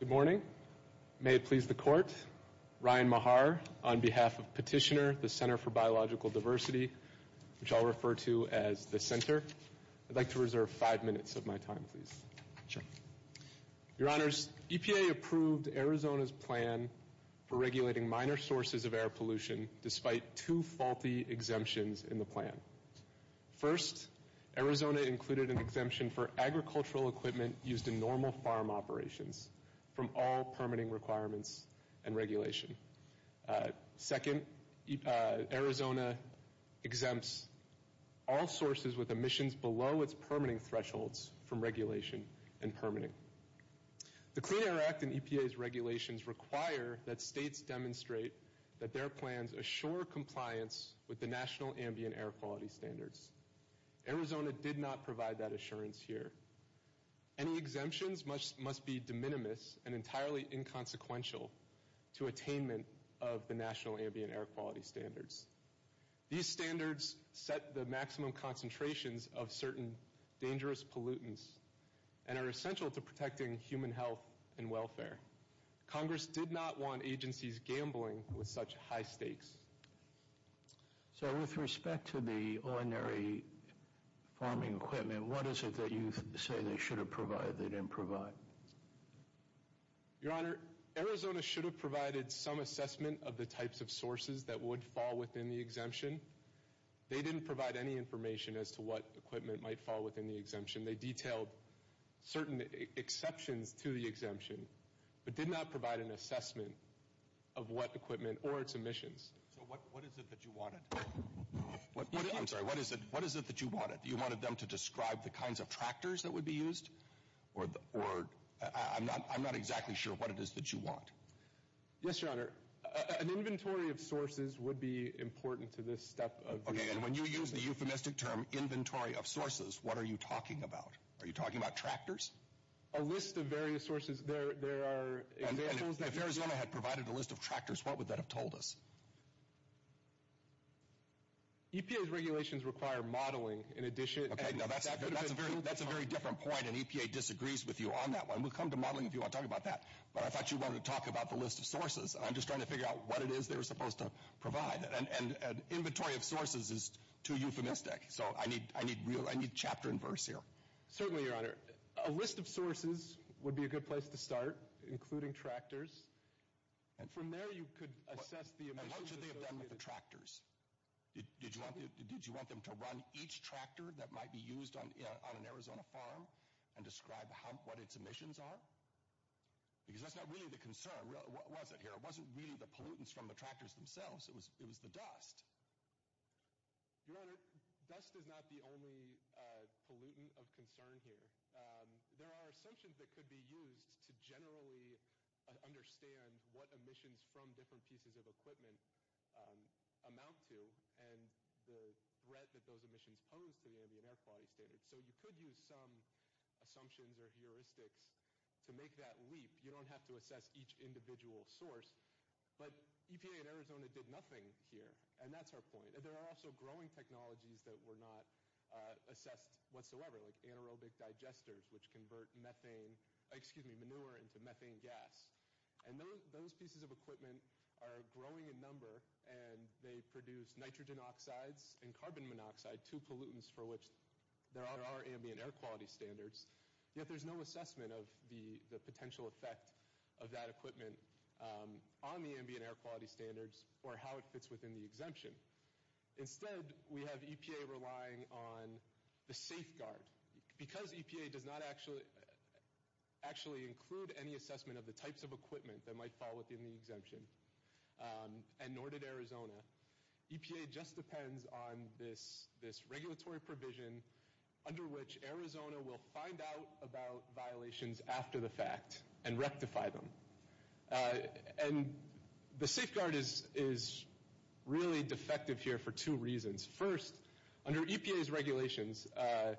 Good morning. May it please the Court, Ryan Mahar on behalf of Petitioner, the Center for Biological Diversity, which I'll refer to as the Center. I'd like to reserve five minutes of my time, please. Your Honors, EPA approved Arizona's plan for regulating minor sources of air pollution despite two faulty exemptions in the plan. First, Arizona included an exemption for agricultural equipment used in normal farm operations from all permitting requirements and regulation. Second, Arizona exempts all sources with emissions below its permitting thresholds from regulation and permitting. The Clean Air Act and EPA's regulations require that states demonstrate that their plans assure compliance with the National provide that assurance here. Any exemptions must be de minimis and entirely inconsequential to attainment of the National Ambient Air Quality Standards. These standards set the maximum concentrations of certain dangerous pollutants and are essential to protecting human health and welfare. Congress did not want agencies gambling with such high stakes. So, with respect to the ordinary farming equipment, what is it that you say they should have provided they didn't provide? Your Honor, Arizona should have provided some assessment of the types of sources that would fall within the exemption. They didn't provide any information as to what equipment might fall within the exemption. They detailed certain exceptions to the exemption but did not provide an assessment of what equipment or its emissions. So, what is it that you wanted? I'm sorry, what is it that you wanted? You wanted them to describe the kinds of tractors that would be used? Or, I'm not exactly sure what it is that you want. Yes, Your Honor. An inventory of sources would be important to this step of the exemption. Okay, and when you use the euphemistic term, inventory of sources, what are you talking about? Are you talking about tractors? A list of various sources. There are examples. If Arizona had provided a list of tractors, what would that have told us? EPA's regulations require modeling in addition. Okay, now that's a very different point and EPA disagrees with you on that one. We'll come to modeling if you want to talk about that. But I thought you wanted to talk about the list of sources. I'm just trying to figure out what it is they were supposed to provide. An inventory of sources is too euphemistic. So, I need chapter and verse here. Certainly, Your Honor. A list of sources would be a good place to start, including tractors. From there, you could assess the emissions. And what should they have done with the tractors? Did you want them to run each tractor that might be used on an Arizona farm and describe what its emissions are? Because that's not really the concern. What was it here? It wasn't really the pollutants from the tractors themselves. It was the dust. Your Honor, dust is not the only pollutant of concern here. There are assumptions that could be used to generally understand what emissions from different pieces of equipment amount to and the threat that those emissions pose to the ambient air quality standard. So, you could use some assumptions or heuristics to make that leap. You don't have to assess each individual source, but EPA and Arizona did nothing here. And that's our point. There are also growing technologies that were not assessed whatsoever, like anaerobic digesters, which convert manure into methane gas. And those pieces of equipment are growing in number and they produce nitrogen oxides and carbon monoxide, two pollutants for which there are ambient air quality standards. Yet, there's no assessment of the potential effect of that equipment on the ambient air quality standards or how it fits within the exemption. Instead, we have EPA relying on the safeguard. Because EPA does not actually include any assessment of the types of equipment that might fall within the exemption, and it just depends on this regulatory provision under which Arizona will find out about violations after the fact and rectify them. And the safeguard is really defective here for two reasons. First, under EPA's regulations, a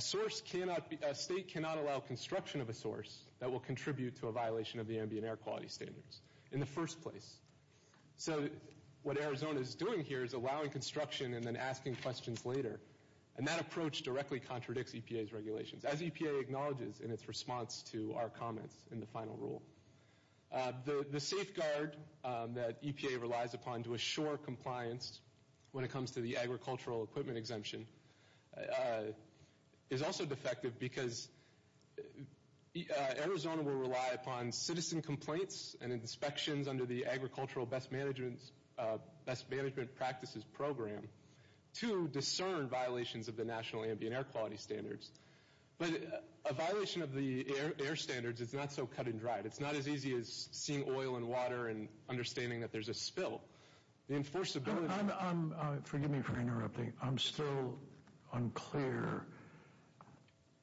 state cannot allow construction of a source that will contribute to a violation of the ambient air quality standards in the first place. So, what Arizona is doing here is allowing construction and then asking questions later. And that approach directly contradicts EPA's regulations, as EPA acknowledges in its response to our comments in the final rule. The safeguard that EPA relies upon to assure compliance when it comes to the agricultural equipment exemption is also defective because Arizona will rely upon citizen complaints and inspections under the Agricultural Best Management Practices Program to discern violations of the National Ambient Air Quality Standards. But a violation of the air standards is not so cut and dried. It's not as easy as seeing oil in water and understanding that there's a spill. The enforceability... Forgive me for interrupting. I'm still unclear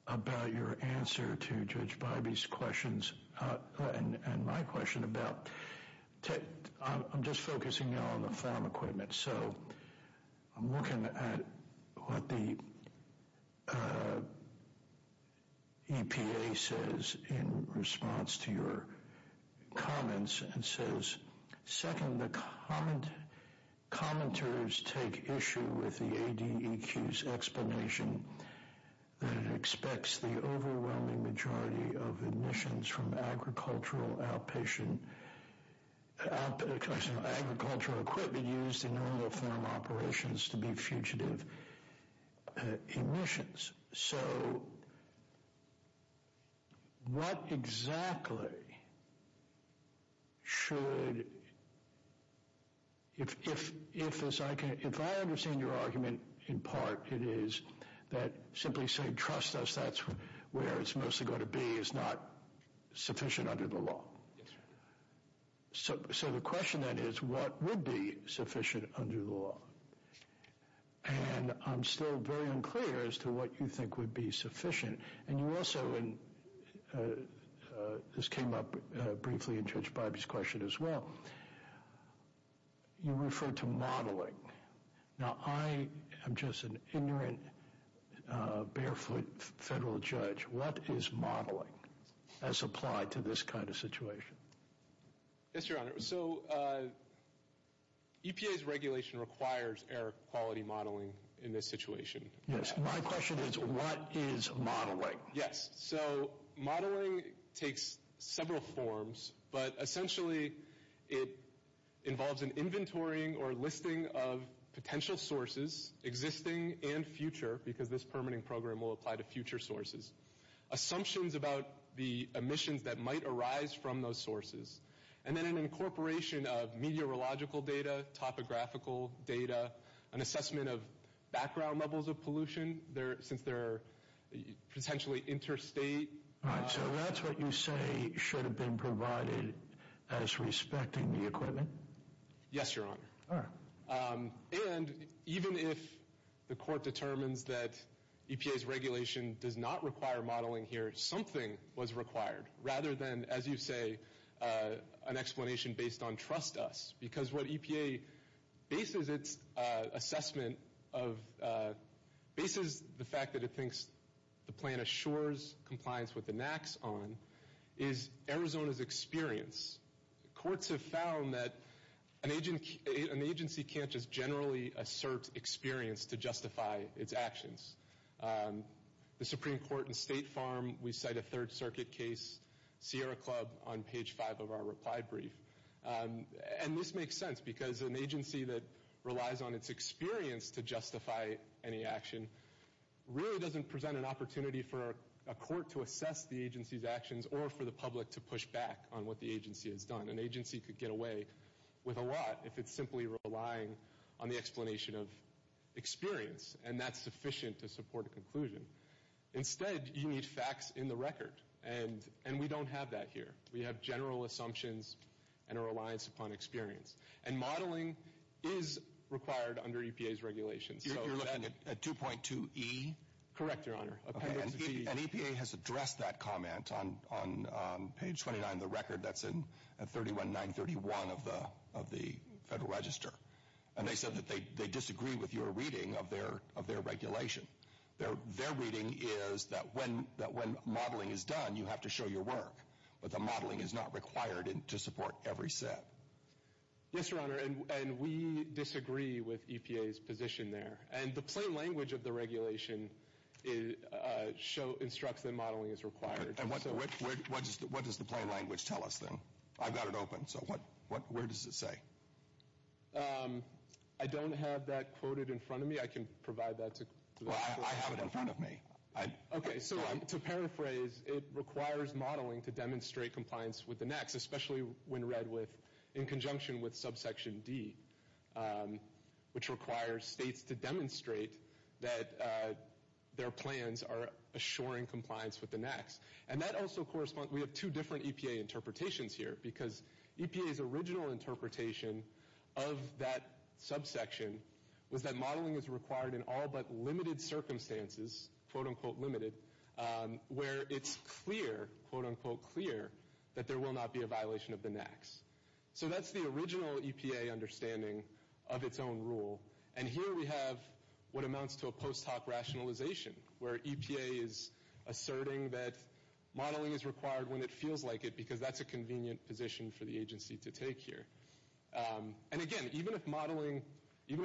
about your answer to Judge Bybee's questions and my question about... I'm just focusing now on the farm equipment. So, I'm looking at what the EPA says in response to your comments and says, second, the commenters take issue with the ADEQ's explanation that it expects the overwhelming majority of emissions from agricultural equipment used in normal farm operations to be fugitive emissions. So what exactly should... If I understand your argument, in part, it is that simply saying, trust us, that's where it's mostly going to be, is not sufficient under the law. So the question then is, what would be sufficient under the law? And I'm still very unclear as to what you think would be sufficient. And you also, and this came up briefly in Judge Bybee's question as well, you referred to modeling. Now, I am just an ignorant, barefoot federal judge. What is modeling as applied to this kind of situation? Yes, Your Honor. So, EPA's regulation requires air quality modeling in this situation. Yes. My question is, what is modeling? Yes. So, modeling takes several forms, but essentially it involves an inventorying or listing of potential sources, existing and future, because this permitting program will apply to future sources. Assumptions about the emissions that might arise from those sources. And then an incorporation of meteorological data, topographical data, an assessment of background levels of pollution, since they're potentially interstate. So that's what you say should have been provided as respecting the equipment? Yes, Your Honor. And even if the court determines that EPA's regulation does not require modeling here, something was required, rather than, as you say, an explanation based on trust us. Because what EPA bases its assessment of, bases the fact that it thinks the plan assures compliance with the NAAQS on, is Arizona's experience. Courts have found that an agency can't just generally assert experience to justify its actions. The Supreme Court in State Farm, we cite a Third Circuit case, Sierra Club, on page five of our reply brief. And this makes sense, because an agency that relies on its experience to justify any action, really doesn't present an opportunity for a court to assess the agency's actions, or for the public to push back on what the agency has done. An agency could get away with a lot, if it's simply relying on the explanation of experience, and that's sufficient to support a conclusion. Instead, you need facts in the record, and we don't have that here. We have general assumptions and a reliance upon experience. And modeling is required under EPA's regulations. You're looking at 2.2E? Correct, Your Honor. And EPA has addressed that comment on page 29 of the record, that's at 31931 of the Federal Register. And they said that they disagree with your reading of their regulation. Their reading is that when modeling is done, you have to show your work. But the modeling is not required to support every set. Yes, Your Honor, and we disagree with EPA's position there. And the plain language of the regulation instructs that modeling is required. And what does the plain language tell us then? I've got it open, so where does it say? I don't have that quoted in front of me. I can provide that to the Court. Well, I have it in front of me. Okay, so to paraphrase, it requires modeling to demonstrate compliance with the NACs, especially when read in conjunction with subsection D, which requires states to demonstrate that their plans are assuring compliance with the NACs. And that also corresponds, we have two different EPA interpretations here, because EPA's original interpretation of that subsection was that modeling is required in all but limited circumstances, quote-unquote limited, where it's clear, quote-unquote clear, that there will not be a violation of the NACs. So that's the original EPA understanding of its own rule. And here we have what amounts to a post hoc rationalization, where EPA is asserting that modeling is required when it feels like it, because that's a convenient position for the agency to take here. And again, even if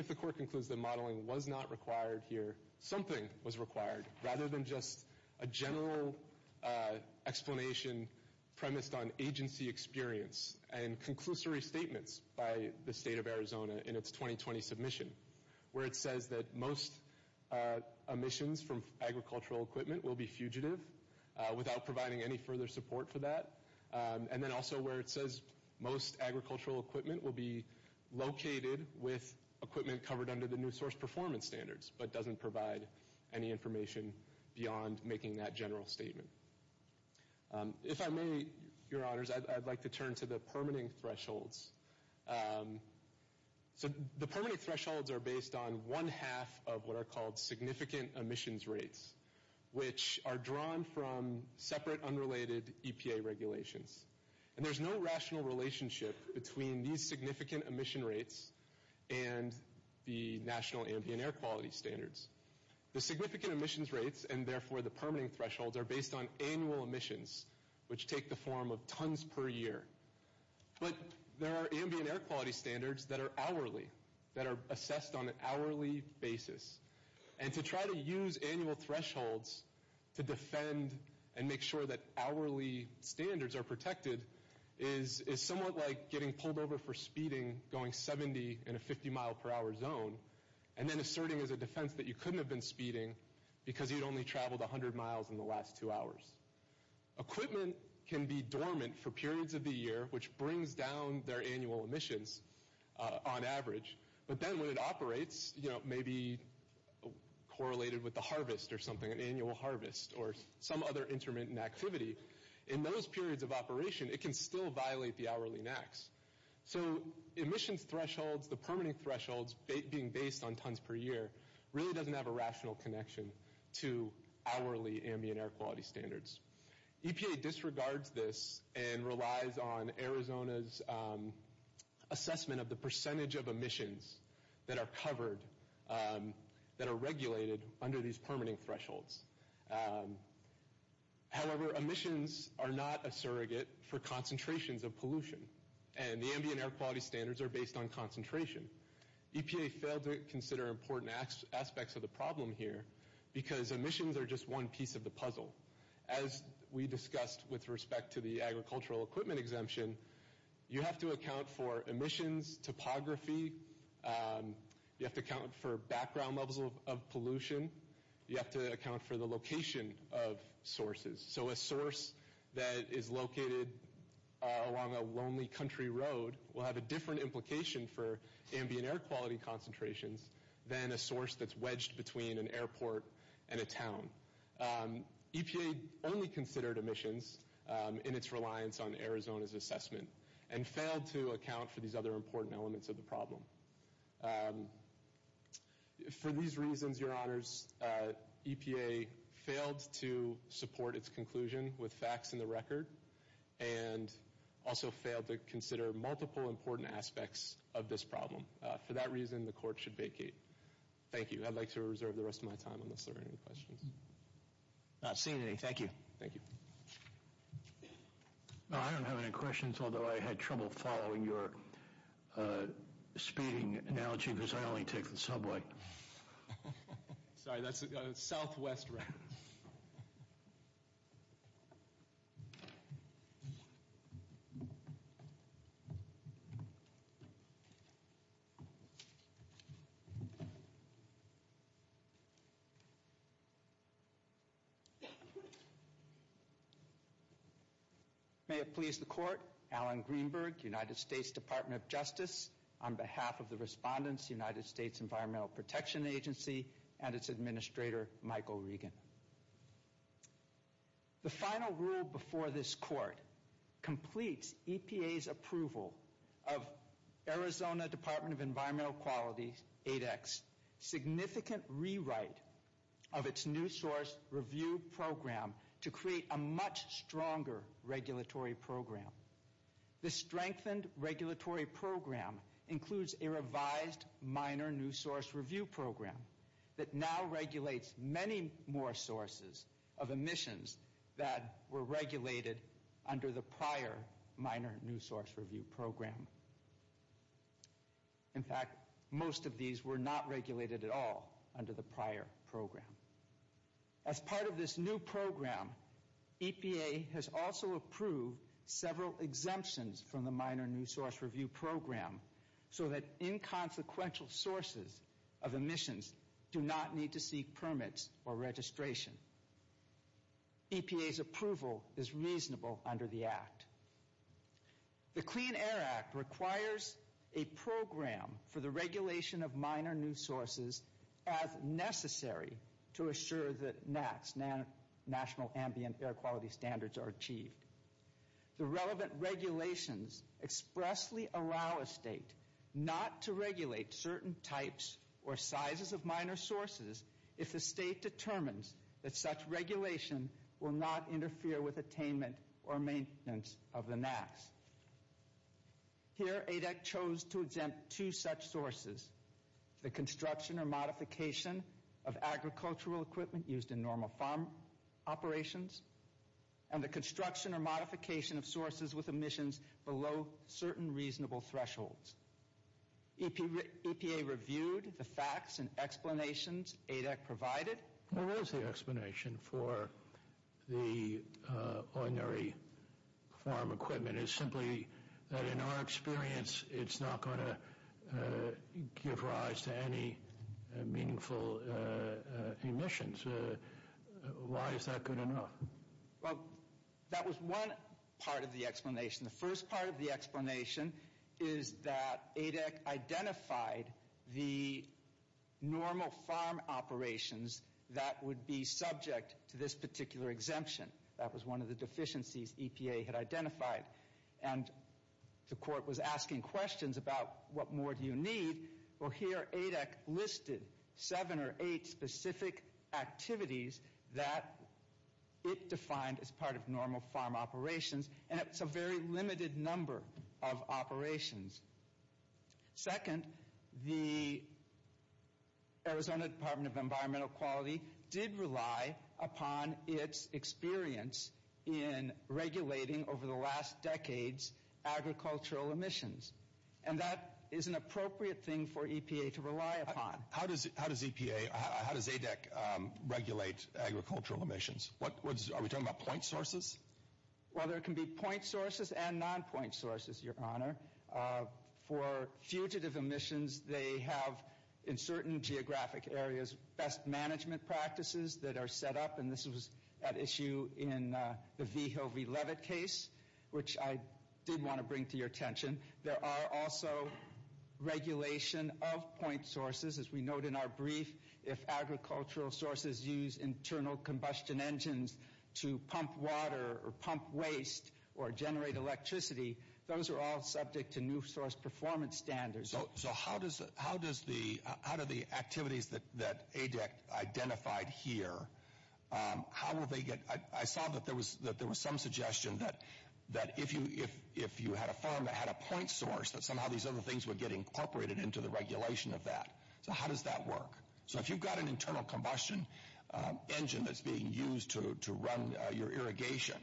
the Court concludes that modeling was not required here, something was required, rather than just a general explanation premised on agency experience and conclusory statements by the state of Arizona in its 2020 submission, where it says that most emissions from agricultural equipment will be fugitive without providing any further support for that. And then also where it says most agricultural equipment will be located with equipment covered under the new source performance standards, but doesn't provide any information beyond making that general statement. If I may, Your Honors, I'd like to turn to the permitting thresholds. So the permitting thresholds are based on one half of what are called significant emissions rates, which are drawn from separate unrelated EPA regulations. And there's no rational relationship between these significant emission rates and the national ambient air quality standards. The significant emissions rates, and therefore the permitting thresholds, are based on annual emissions, which take the form of tons per year. But there are ambient air quality standards that are hourly, that are assessed on an hourly basis. And to try to use annual thresholds to defend and make sure that hourly standards are protected is somewhat like getting pulled over for speeding, going 70 in a 50 mile per hour zone, and then asserting as a defense that you couldn't have been speeding because you'd only traveled 100 miles in the last two hours. Equipment can be dormant for periods of the year, which brings down their annual emissions on average. But then when it operates, maybe correlated with the harvest or something, an annual harvest or some other intermittent activity, in those periods of operation it can still violate the hourly NAAQS. So emissions thresholds, the permitting thresholds being based on tons per year, really doesn't have a rational connection to hourly ambient air quality standards. EPA disregards this and relies on Arizona's assessment of the percentage of emissions that are covered, that are regulated under these permitting thresholds. However, emissions are not a surrogate for concentrations of pollution. And the ambient air quality standards are based on concentration. EPA failed to consider important aspects of the problem here because emissions are just one piece of the puzzle. As we discussed with respect to the agricultural equipment exemption, you have to account for emissions, topography, you have to account for background levels of pollution, you have to account for the location of sources. So a source that is located along a lonely country road will have a different implication for ambient air quality concentrations than a source that's wedged between an airport and a town. EPA only considered emissions in its reliance on Arizona's assessment and failed to account for these other important elements of the problem. For these reasons, your honors, EPA failed to support its conclusion with facts in the record and also failed to consider multiple important aspects of this problem. For that reason, the court should vacate. Thank you. I'd like to reserve the rest of my time unless there are any questions. Not seeing any. Thank you. Thank you. I don't have any questions, although I had trouble following your speeding analogy because I only take the subway. Sorry, that's a Southwest route. May it please the court, Alan Greenberg, United States Department of Justice, on behalf of the respondents, United States Environmental Protection Agency, and its administrator, Michael Regan. The final rule before this court completes EPA's approval of Arizona Department of Environmental Quality's significant rewrite of its new source review program to create a much stronger regulatory program. This strengthened regulatory program includes a revised minor new source review program that now regulates many more sources of emissions that were regulated under the prior minor new source review program. In fact, most of these were not regulated at all under the prior program. As part of this new program, EPA has also approved several exemptions from the minor new source review program so that inconsequential sources of emissions do not need to seek permits or registration. EPA's approval is reasonable under the act. The Clean Air Act requires a program for the regulation of minor new sources as necessary to assure that national ambient air quality standards are achieved. The relevant regulations expressly allow a state not to regulate certain types or sizes of minor sources if the state determines that such regulation will not interfere with attainment or maintenance of the NAAQS. Here, ADEC chose to exempt two such sources, the construction or modification of agricultural equipment used in normal farm operations and the construction or modification of sources with emissions below certain reasonable thresholds. EPA reviewed the facts and explanations ADEC provided. What was the explanation for the ordinary farm equipment? It's simply that in our experience it's not going to give rise to any meaningful emissions. Why is that good enough? The first part of the explanation is that ADEC identified the normal farm operations that would be subject to this particular exemption. That was one of the deficiencies EPA had identified. The court was asking questions about what more do you need. Here, ADEC listed seven or eight specific activities that it defined as part of normal farm operations. It's a very limited number of operations. Second, the Arizona Department of Environmental Quality did rely upon its experience in regulating over the last decades agricultural emissions. That is an appropriate thing for EPA to rely upon. How does ADEC regulate agricultural emissions? Are we talking about point sources? There can be point sources and non-point sources, Your Honor. For fugitive emissions, they have, in certain geographic areas, best management practices that are set up. This was at issue in the V-Hill, V-Levitt case, which I did want to bring to your attention. There are also regulation of point sources. As we note in our brief, if agricultural sources use internal combustion engines to pump water or pump waste or generate electricity, those are all subject to new source performance standards. How do the activities that ADEC identified here, I saw that there was some suggestion that if you had a farm that had a point source, that somehow these other things would get incorporated into the regulation of that. How does that work? If you've got an internal combustion engine that's being used to run your irrigation,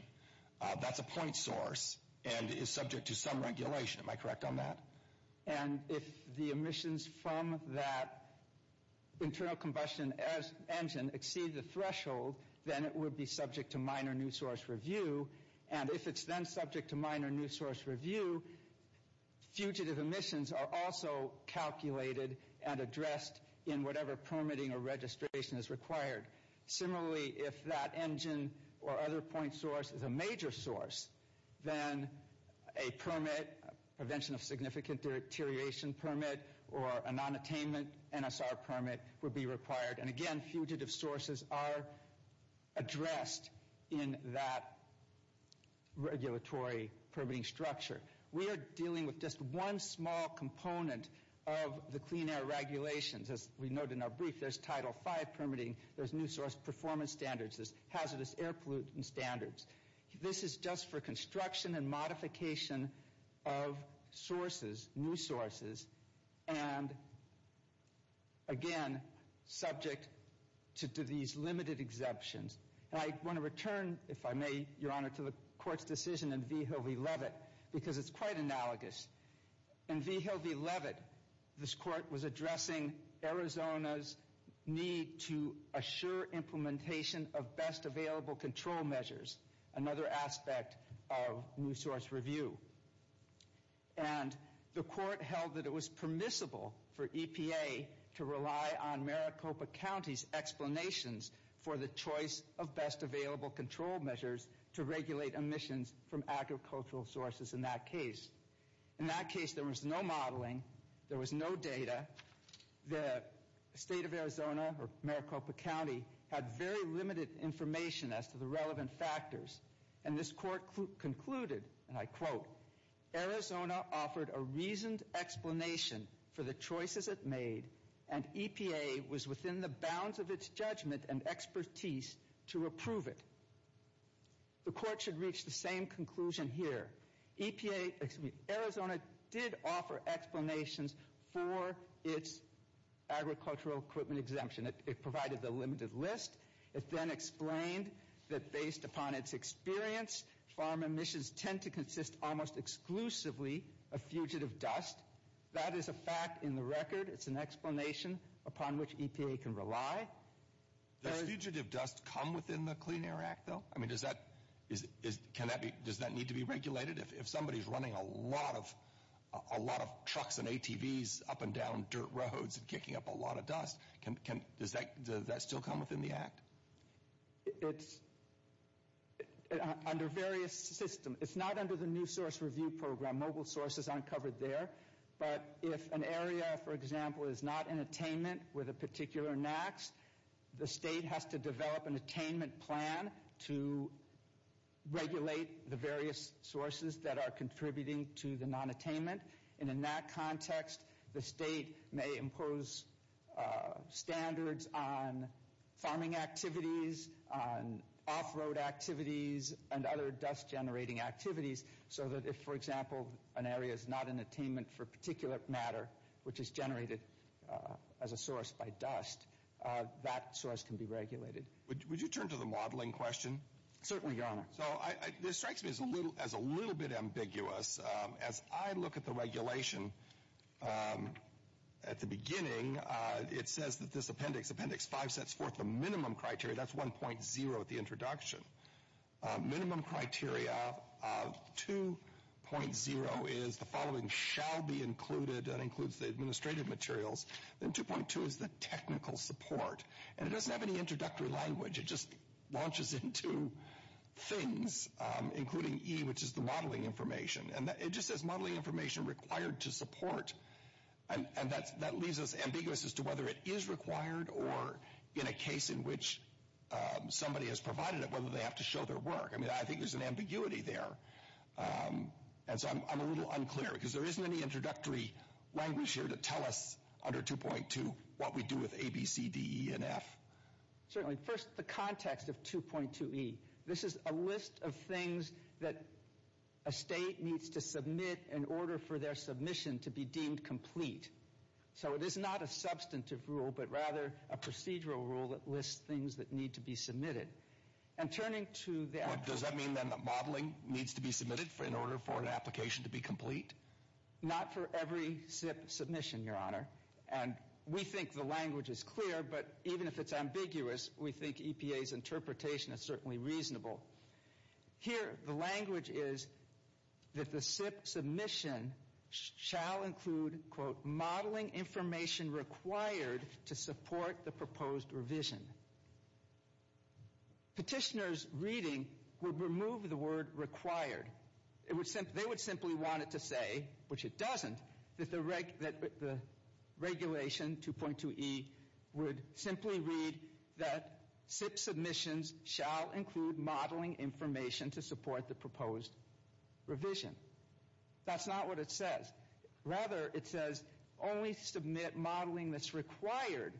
that's a point source and is subject to some regulation. Am I correct on that? If the emissions from that internal combustion engine exceed the threshold, then it would be subject to minor new source review. If it's then subject to minor new source review, fugitive emissions are also calculated and addressed in whatever permitting or registration is required. Similarly, if that engine or other point source is a major source, then a permit, prevention of significant deterioration permit, or a non-attainment NSR permit would be required. Again, fugitive sources are addressed in that regulatory permitting structure. We are dealing with just one small component of the clean air regulations. As we noted in our brief, there's Title V permitting, there's new source performance standards, there's hazardous air pollutant standards. This is just for construction and modification of sources, new sources, and again, subject to these limited exemptions. I want to return, if I may, Your Honor, to the Court's decision in V. Hilvey-Levitt, because it's quite analogous. In V. Hilvey-Levitt, this Court was addressing Arizona's need to assure implementation of best available control measures, another aspect of new source review. The Court held that it was permissible for EPA to rely on Maricopa County's explanations for the choice of best available control measures to regulate emissions from agricultural sources in that case. In that case, there was no modeling, there was no data. The State of Arizona, or Maricopa County, had very limited information as to the relevant factors. And this Court concluded, and I quote, Arizona offered a reasoned explanation for the choices it made, and EPA was within the bounds of its judgment and expertise to approve it. The Court should reach the same conclusion here. Arizona did offer explanations for its agricultural equipment exemption. It provided the limited list. It then explained that based upon its experience, farm emissions tend to consist almost exclusively of fugitive dust. That is a fact in the record. It's an explanation upon which EPA can rely. Does fugitive dust come within the Clean Air Act, though? I mean, does that need to be regulated? If somebody's running a lot of trucks and ATVs up and down dirt roads and kicking up a lot of dust, does that still come within the Act? It's under various systems. It's not under the New Source Review Program. Mobile sources aren't covered there. But if an area, for example, is not in attainment with a particular NAAQS, the state has to develop an attainment plan to regulate the various sources that are contributing to the non-attainment. And in that context, the state may impose standards on farming activities, on off-road activities, and other dust-generating activities, so that if, for example, an area is not in attainment for a particular matter, which is generated as a source by dust, that source can be regulated. Would you turn to the modeling question? Certainly, Your Honor. This strikes me as a little bit ambiguous. As I look at the regulation at the beginning, it says that this Appendix 5 sets forth the minimum criteria. That's 1.0 at the introduction. Minimum criteria, 2.0 is the following shall be included. That includes the administrative materials. Then 2.2 is the technical support. And it doesn't have any introductory language. It just launches into things, including E, which is the modeling information. And it just says, modeling information required to support. And that leaves us ambiguous as to whether it is required or in a case in which somebody has provided it, whether they have to show their work. I mean, I think there's an ambiguity there. And so I'm a little unclear, because there isn't any introductory language here to tell us under 2.2 what we do with A, B, C, D, E, and F. Certainly. First, the context of 2.2E. This is a list of things that a state needs to submit in order for their submission to be deemed complete. So it is not a substantive rule, but rather a procedural rule that lists things that need to be submitted. And turning to the actual— Does that mean then that modeling needs to be submitted in order for an application to be complete? Not for every submission, Your Honor. And we think the language is clear, but even if it's ambiguous, we think EPA's interpretation is certainly reasonable. Here, the language is that the submission shall include, quote, modeling information required to support the proposed revision. Petitioner's reading would remove the word required. They would simply want it to say, which it doesn't, that the regulation, 2.2E, would simply read that SIP submissions shall include modeling information to support the proposed revision. That's not what it says. Rather, it says only submit modeling that's required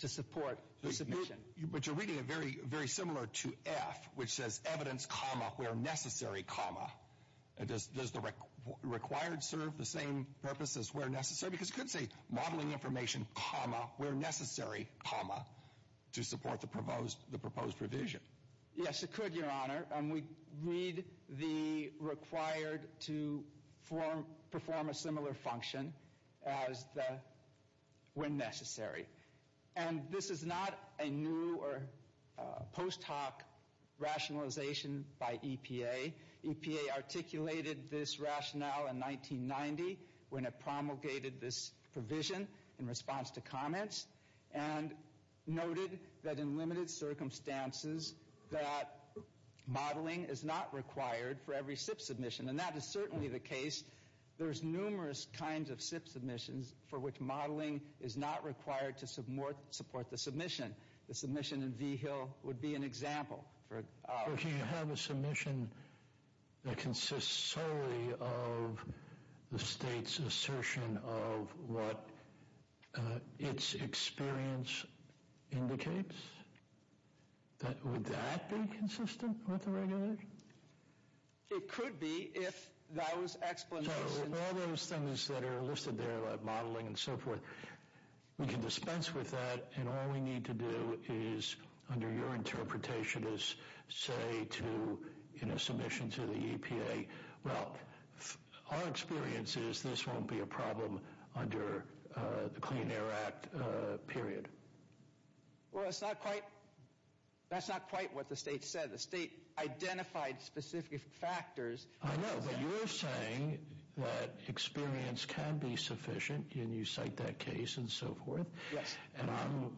to support the submission. But you're reading it very similar to F, which says evidence, comma, where necessary, comma. Does the required serve the same purpose as where necessary? Because it could say modeling information, comma, where necessary, comma, to support the proposed revision. Yes, it could, Your Honor. We read the required to perform a similar function as the when necessary. And this is not a new or post hoc rationalization by EPA. EPA articulated this rationale in 1990 when it promulgated this provision in response to comments and noted that in limited circumstances that modeling is not required for every SIP submission. And that is certainly the case. There's numerous kinds of SIP submissions for which modeling is not required to support the submission. The submission in V-Hill would be an example. If you have a submission that consists solely of the state's assertion of what its experience indicates, would that be consistent with the regulation? It could be if those explanations... So all those things that are listed there, like modeling and so forth, we can dispense with that, and all we need to do is, under your interpretation, is say to a submission to the EPA, well, our experience is this won't be a problem under the Clean Air Act period. Well, that's not quite what the state said. The state identified specific factors. I know, but you're saying that experience can be sufficient, and you cite that case and so forth. Yes. And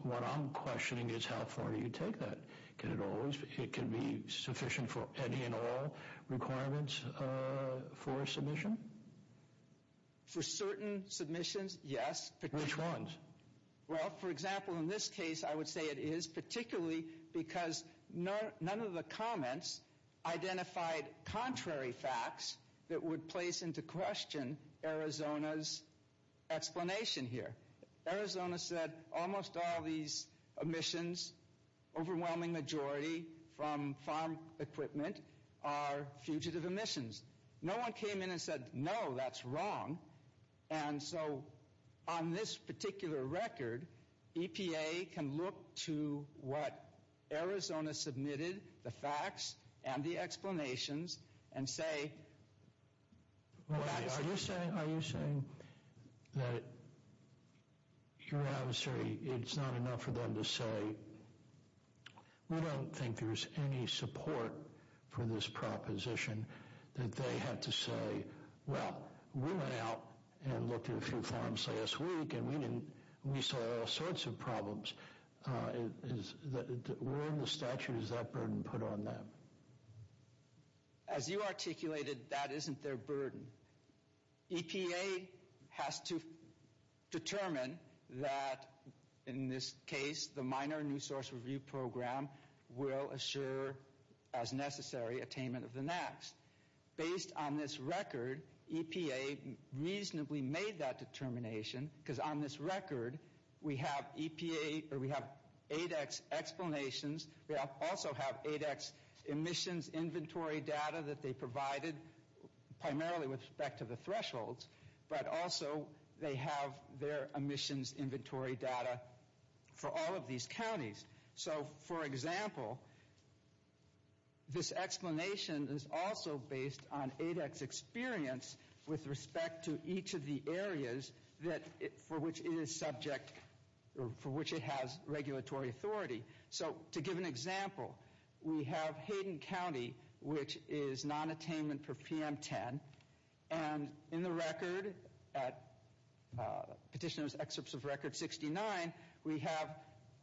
what I'm questioning is how far do you take that? It can be sufficient for any and all requirements for a submission? For certain submissions, yes. Which ones? Well, for example, in this case, I would say it is, particularly because none of the comments identified contrary facts that would place into question Arizona's explanation here. Arizona said almost all these emissions, overwhelming majority from farm equipment, are fugitive emissions. No one came in and said, no, that's wrong. And so on this particular record, EPA can look to what Arizona submitted, the facts and the explanations, and say... Are you saying that it's not enough for them to say, we don't think there's any support for this proposition, that they have to say, well, we went out and looked at a few farms last week, and we saw all sorts of problems. Where in the statute does that burden put on them? As you articulated, that isn't their burden. EPA has to determine that, in this case, the minor new source review program will assure, as necessary, attainment of the NAAQS. Based on this record, EPA reasonably made that determination, because on this record, we have 8x explanations, we also have 8x emissions inventory data that they provided, primarily with respect to the thresholds, but also they have their emissions inventory data for all of these counties. For example, this explanation is also based on 8x experience, with respect to each of the areas for which it has regulatory authority. To give an example, we have Hayden County, which is non-attainment for PM10, and in the record, Petitioner's Excerpt of Record 69, we have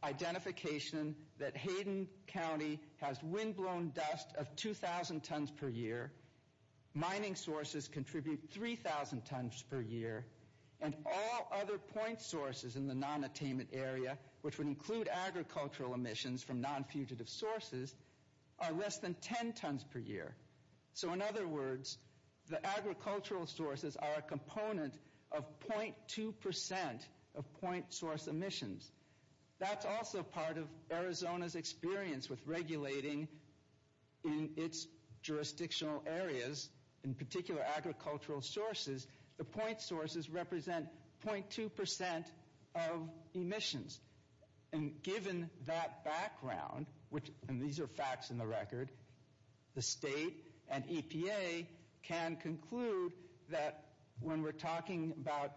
identification that Hayden County has windblown dust of 2,000 tons per year, mining sources contribute 3,000 tons per year, and all other point sources in the non-attainment area, which would include agricultural emissions from non-fugitive sources, are less than 10 tons per year. So in other words, the agricultural sources are a component of 0.2% of point source emissions. That's also part of Arizona's experience with regulating in its jurisdictional areas, in particular agricultural sources, the point sources represent 0.2% of emissions. And given that background, and these are facts in the record, the state and EPA can conclude that when we're talking about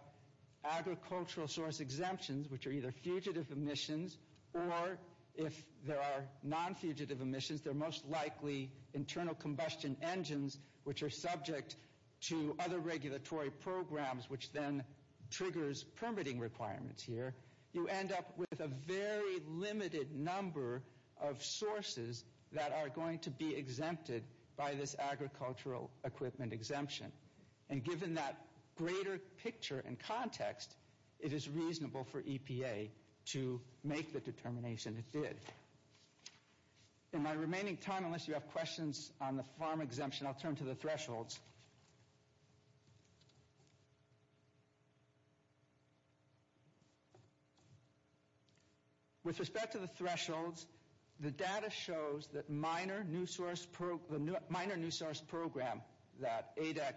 agricultural source exemptions, which are either fugitive emissions, or if there are non-fugitive emissions, they're most likely internal combustion engines, which are subject to other regulatory programs, which then triggers permitting requirements here, you end up with a very limited number of sources that are going to be exempted by this agricultural equipment exemption. And given that greater picture and context, in my remaining time, unless you have questions on the farm exemption, I'll turn to the thresholds. With respect to the thresholds, the data shows that the minor new source program that ADEC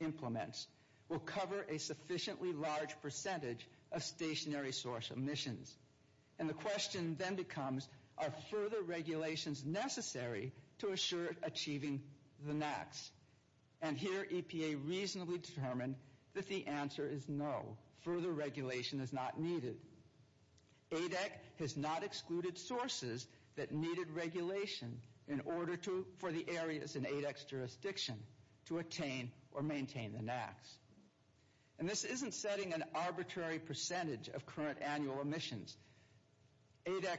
implements will cover a sufficiently large percentage of stationary source emissions. And the question then becomes, are further regulations necessary to assure achieving the NAAQS? And here EPA reasonably determined that the answer is no, further regulation is not needed. ADEC has not excluded sources that needed regulation in order for the areas in ADEC's jurisdiction to attain or maintain the NAAQS. And this isn't setting an arbitrary percentage of current annual emissions. ADEC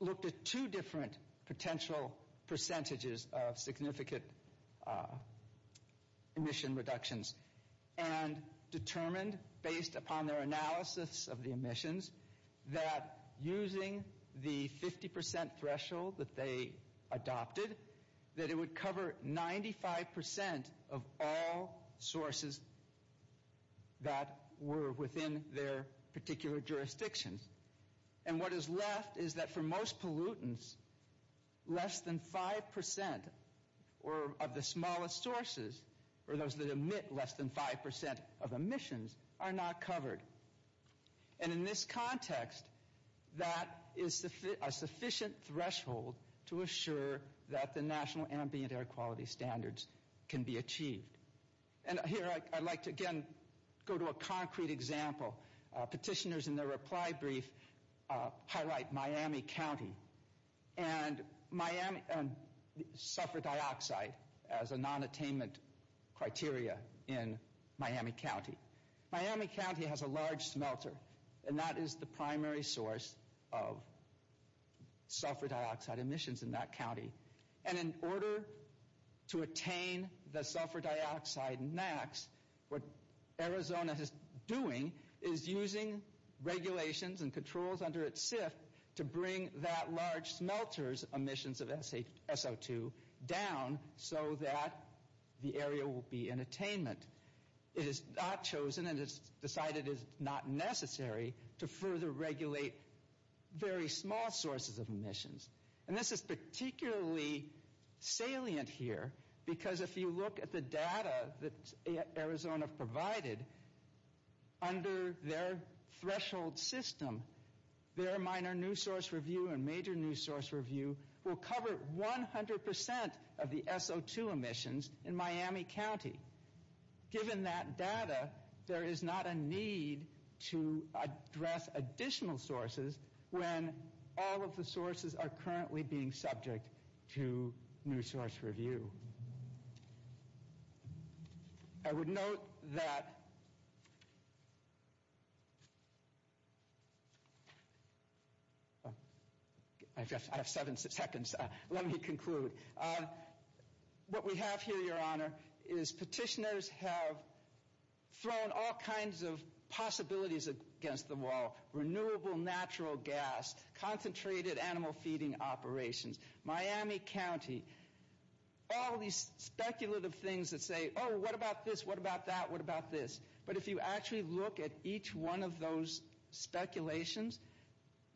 looked at two different potential percentages of significant emission reductions and determined, based upon their analysis of the emissions, that using the 50% threshold that they adopted, that it would cover 95% of all sources that were within their particular jurisdictions. And what is left is that for most pollutants, less than 5% of the smallest sources, or those that emit less than 5% of emissions, are not covered. And in this context, that is a sufficient threshold to assure that the National Ambient Air Quality Standards can be achieved. And here I'd like to again go to a concrete example. Petitioners in their reply brief highlight Miami County. And Miami suffered dioxide as a non-attainment criteria in Miami County. Miami County has a large smelter, and that is the primary source of sulfur dioxide emissions in that county. And in order to attain the sulfur dioxide NAAQS, what Arizona is doing is using regulations and controls under its SIFT to bring that large smelter's emissions of SO2 down so that the area will be in attainment. It has not chosen, and it has decided it is not necessary, to further regulate very small sources of emissions. And this is particularly salient here, because if you look at the data that Arizona provided under their threshold system, their minor new source review and major new source review will cover 100% of the SO2 emissions in Miami County. Given that data, there is not a need to address additional sources when all of the sources are currently being subject to new source review. I would note that... I have seven seconds. Let me conclude. What we have here, Your Honor, is petitioners have thrown all kinds of possibilities against the wall. Renewable natural gas, concentrated animal feeding operations. Miami County. All of these speculative things that say, oh, what about this, what about that, what about this? But if you actually look at each one of those speculations,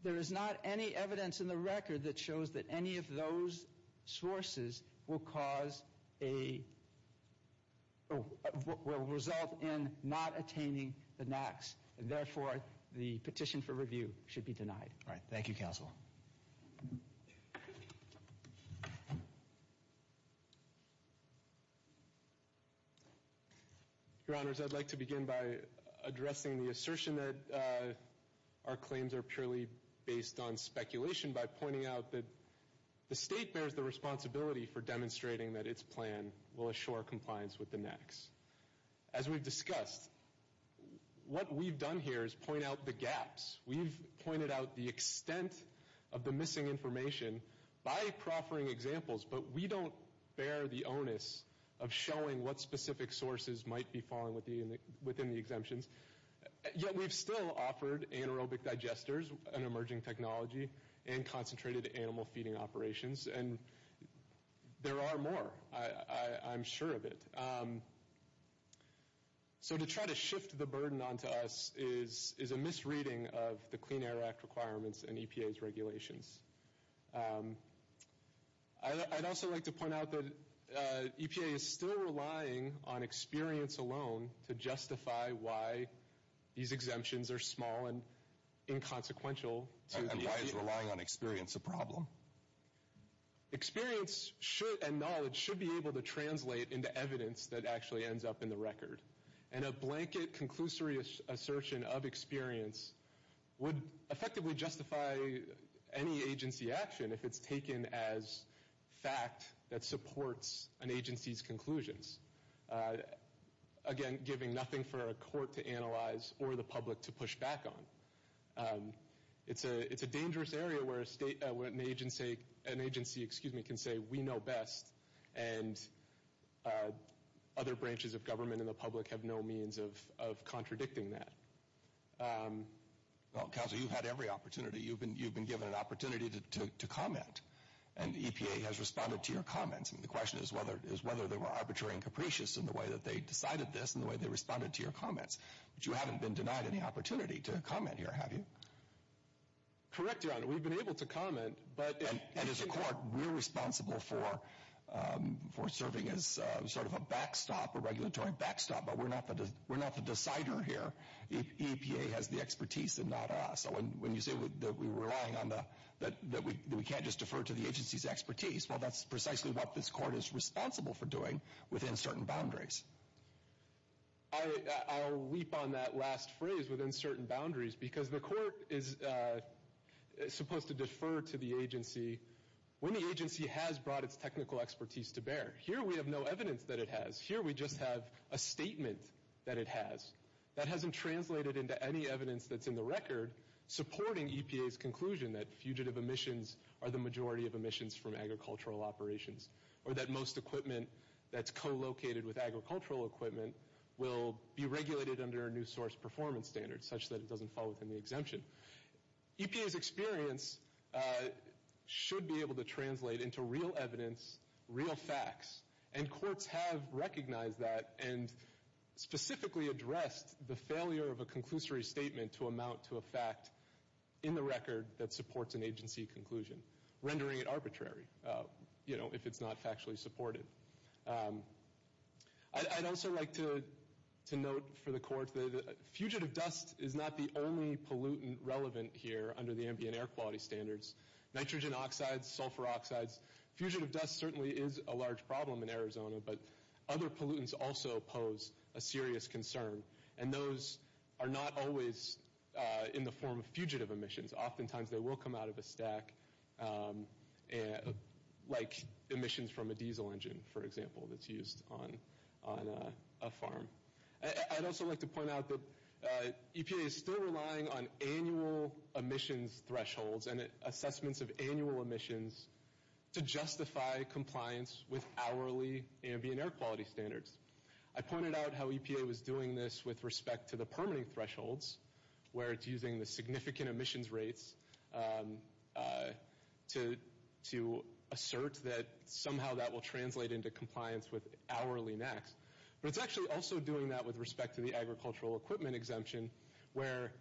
there is not any evidence in the record that shows that any of those sources will result in not attaining the NAAQS. Therefore, the petition for review should be denied. All right. Thank you, Counsel. Your Honors, I'd like to begin by addressing the assertion that our claims are purely based on speculation by pointing out that the state bears the responsibility for demonstrating that its plan will assure compliance with the NAAQS. As we've discussed, what we've done here is point out the gaps. We've pointed out the extent of the missing information by proffering examples, but we don't bear the onus of showing what specific sources might be falling within the exemptions. Yet we've still offered anaerobic digesters, an emerging technology, and concentrated animal feeding operations. And there are more, I'm sure of it. So to try to shift the burden onto us is a misreading of the Clean Air Act requirements and EPA's regulations. I'd also like to point out that EPA is still relying on experience alone to justify why these exemptions are small and inconsequential to the EPA. And why is relying on experience a problem? Experience and knowledge should be able to translate into evidence that actually ends up in the record. And a blanket conclusory assertion of experience would effectively justify any agency action if it's taken as fact that supports an agency's conclusions. Again, giving nothing for a court to analyze or the public to push back on. It's a dangerous area where an agency can say, we know best, and other branches of government and the public have no means of contradicting that. Well, Counselor, you've had every opportunity. You've been given an opportunity to comment, and EPA has responded to your comments. And the question is whether they were arbitrary and capricious in the way that they decided this and the way they responded to your comments. But you haven't been denied any opportunity to comment here, have you? Correct, Your Honor. We've been able to comment. And as a court, we're responsible for serving as sort of a backstop, a regulatory backstop. But we're not the decider here. EPA has the expertise and not us. So when you say that we can't just defer to the agency's expertise, well, that's precisely what this court is responsible for doing within certain boundaries. I'll leap on that last phrase, within certain boundaries, because the court is supposed to defer to the agency when the agency has brought its technical expertise to bear. Here we have no evidence that it has. Here we just have a statement that it has. That hasn't translated into any evidence that's in the record supporting EPA's conclusion that fugitive emissions are the majority of emissions from agricultural operations or that most equipment that's co-located with agricultural equipment will be regulated under a new source performance standard, such that it doesn't fall within the exemption. EPA's experience should be able to translate into real evidence, real facts. And courts have recognized that and specifically addressed the failure of a conclusory statement to amount to a fact in the record that supports an agency conclusion, rendering it arbitrary. You know, if it's not factually supported. I'd also like to note for the court that fugitive dust is not the only pollutant relevant here under the ambient air quality standards. Nitrogen oxides, sulfur oxides, fugitive dust certainly is a large problem in Arizona, but other pollutants also pose a serious concern. And those are not always in the form of fugitive emissions. Oftentimes they will come out of a stack, like emissions from a diesel engine, for example, that's used on a farm. I'd also like to point out that EPA is still relying on annual emissions thresholds and assessments of annual emissions to justify compliance with hourly ambient air quality standards. I pointed out how EPA was doing this with respect to the permitting thresholds, where it's using the significant emissions rates to assert that somehow that will translate into compliance with hourly NAAQS. But it's actually also doing that with respect to the agricultural equipment exemption, where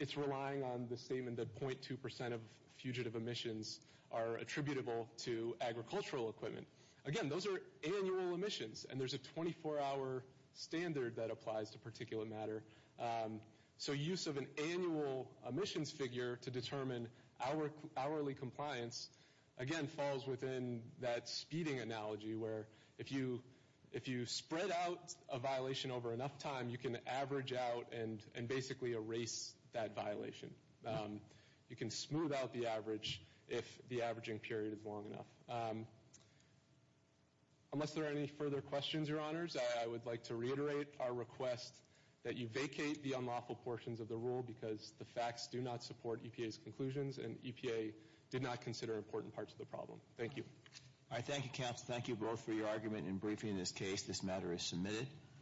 it's relying on the statement that 0.2% of fugitive emissions are attributable to agricultural equipment. Again, those are annual emissions, and there's a 24-hour standard that applies to particulate matter. So use of an annual emissions figure to determine hourly compliance, again, falls within that speeding analogy, where if you spread out a violation over enough time, you can average out and basically erase that violation. You can smooth out the average if the averaging period is long enough. Unless there are any further questions, Your Honors, I would like to reiterate our request that you vacate the unlawful portions of the rule because the facts do not support EPA's conclusions, and EPA did not consider important parts of the problem. Thank you. Thank you, Council. Thank you both for your argument in briefing this case. This matter is submitted.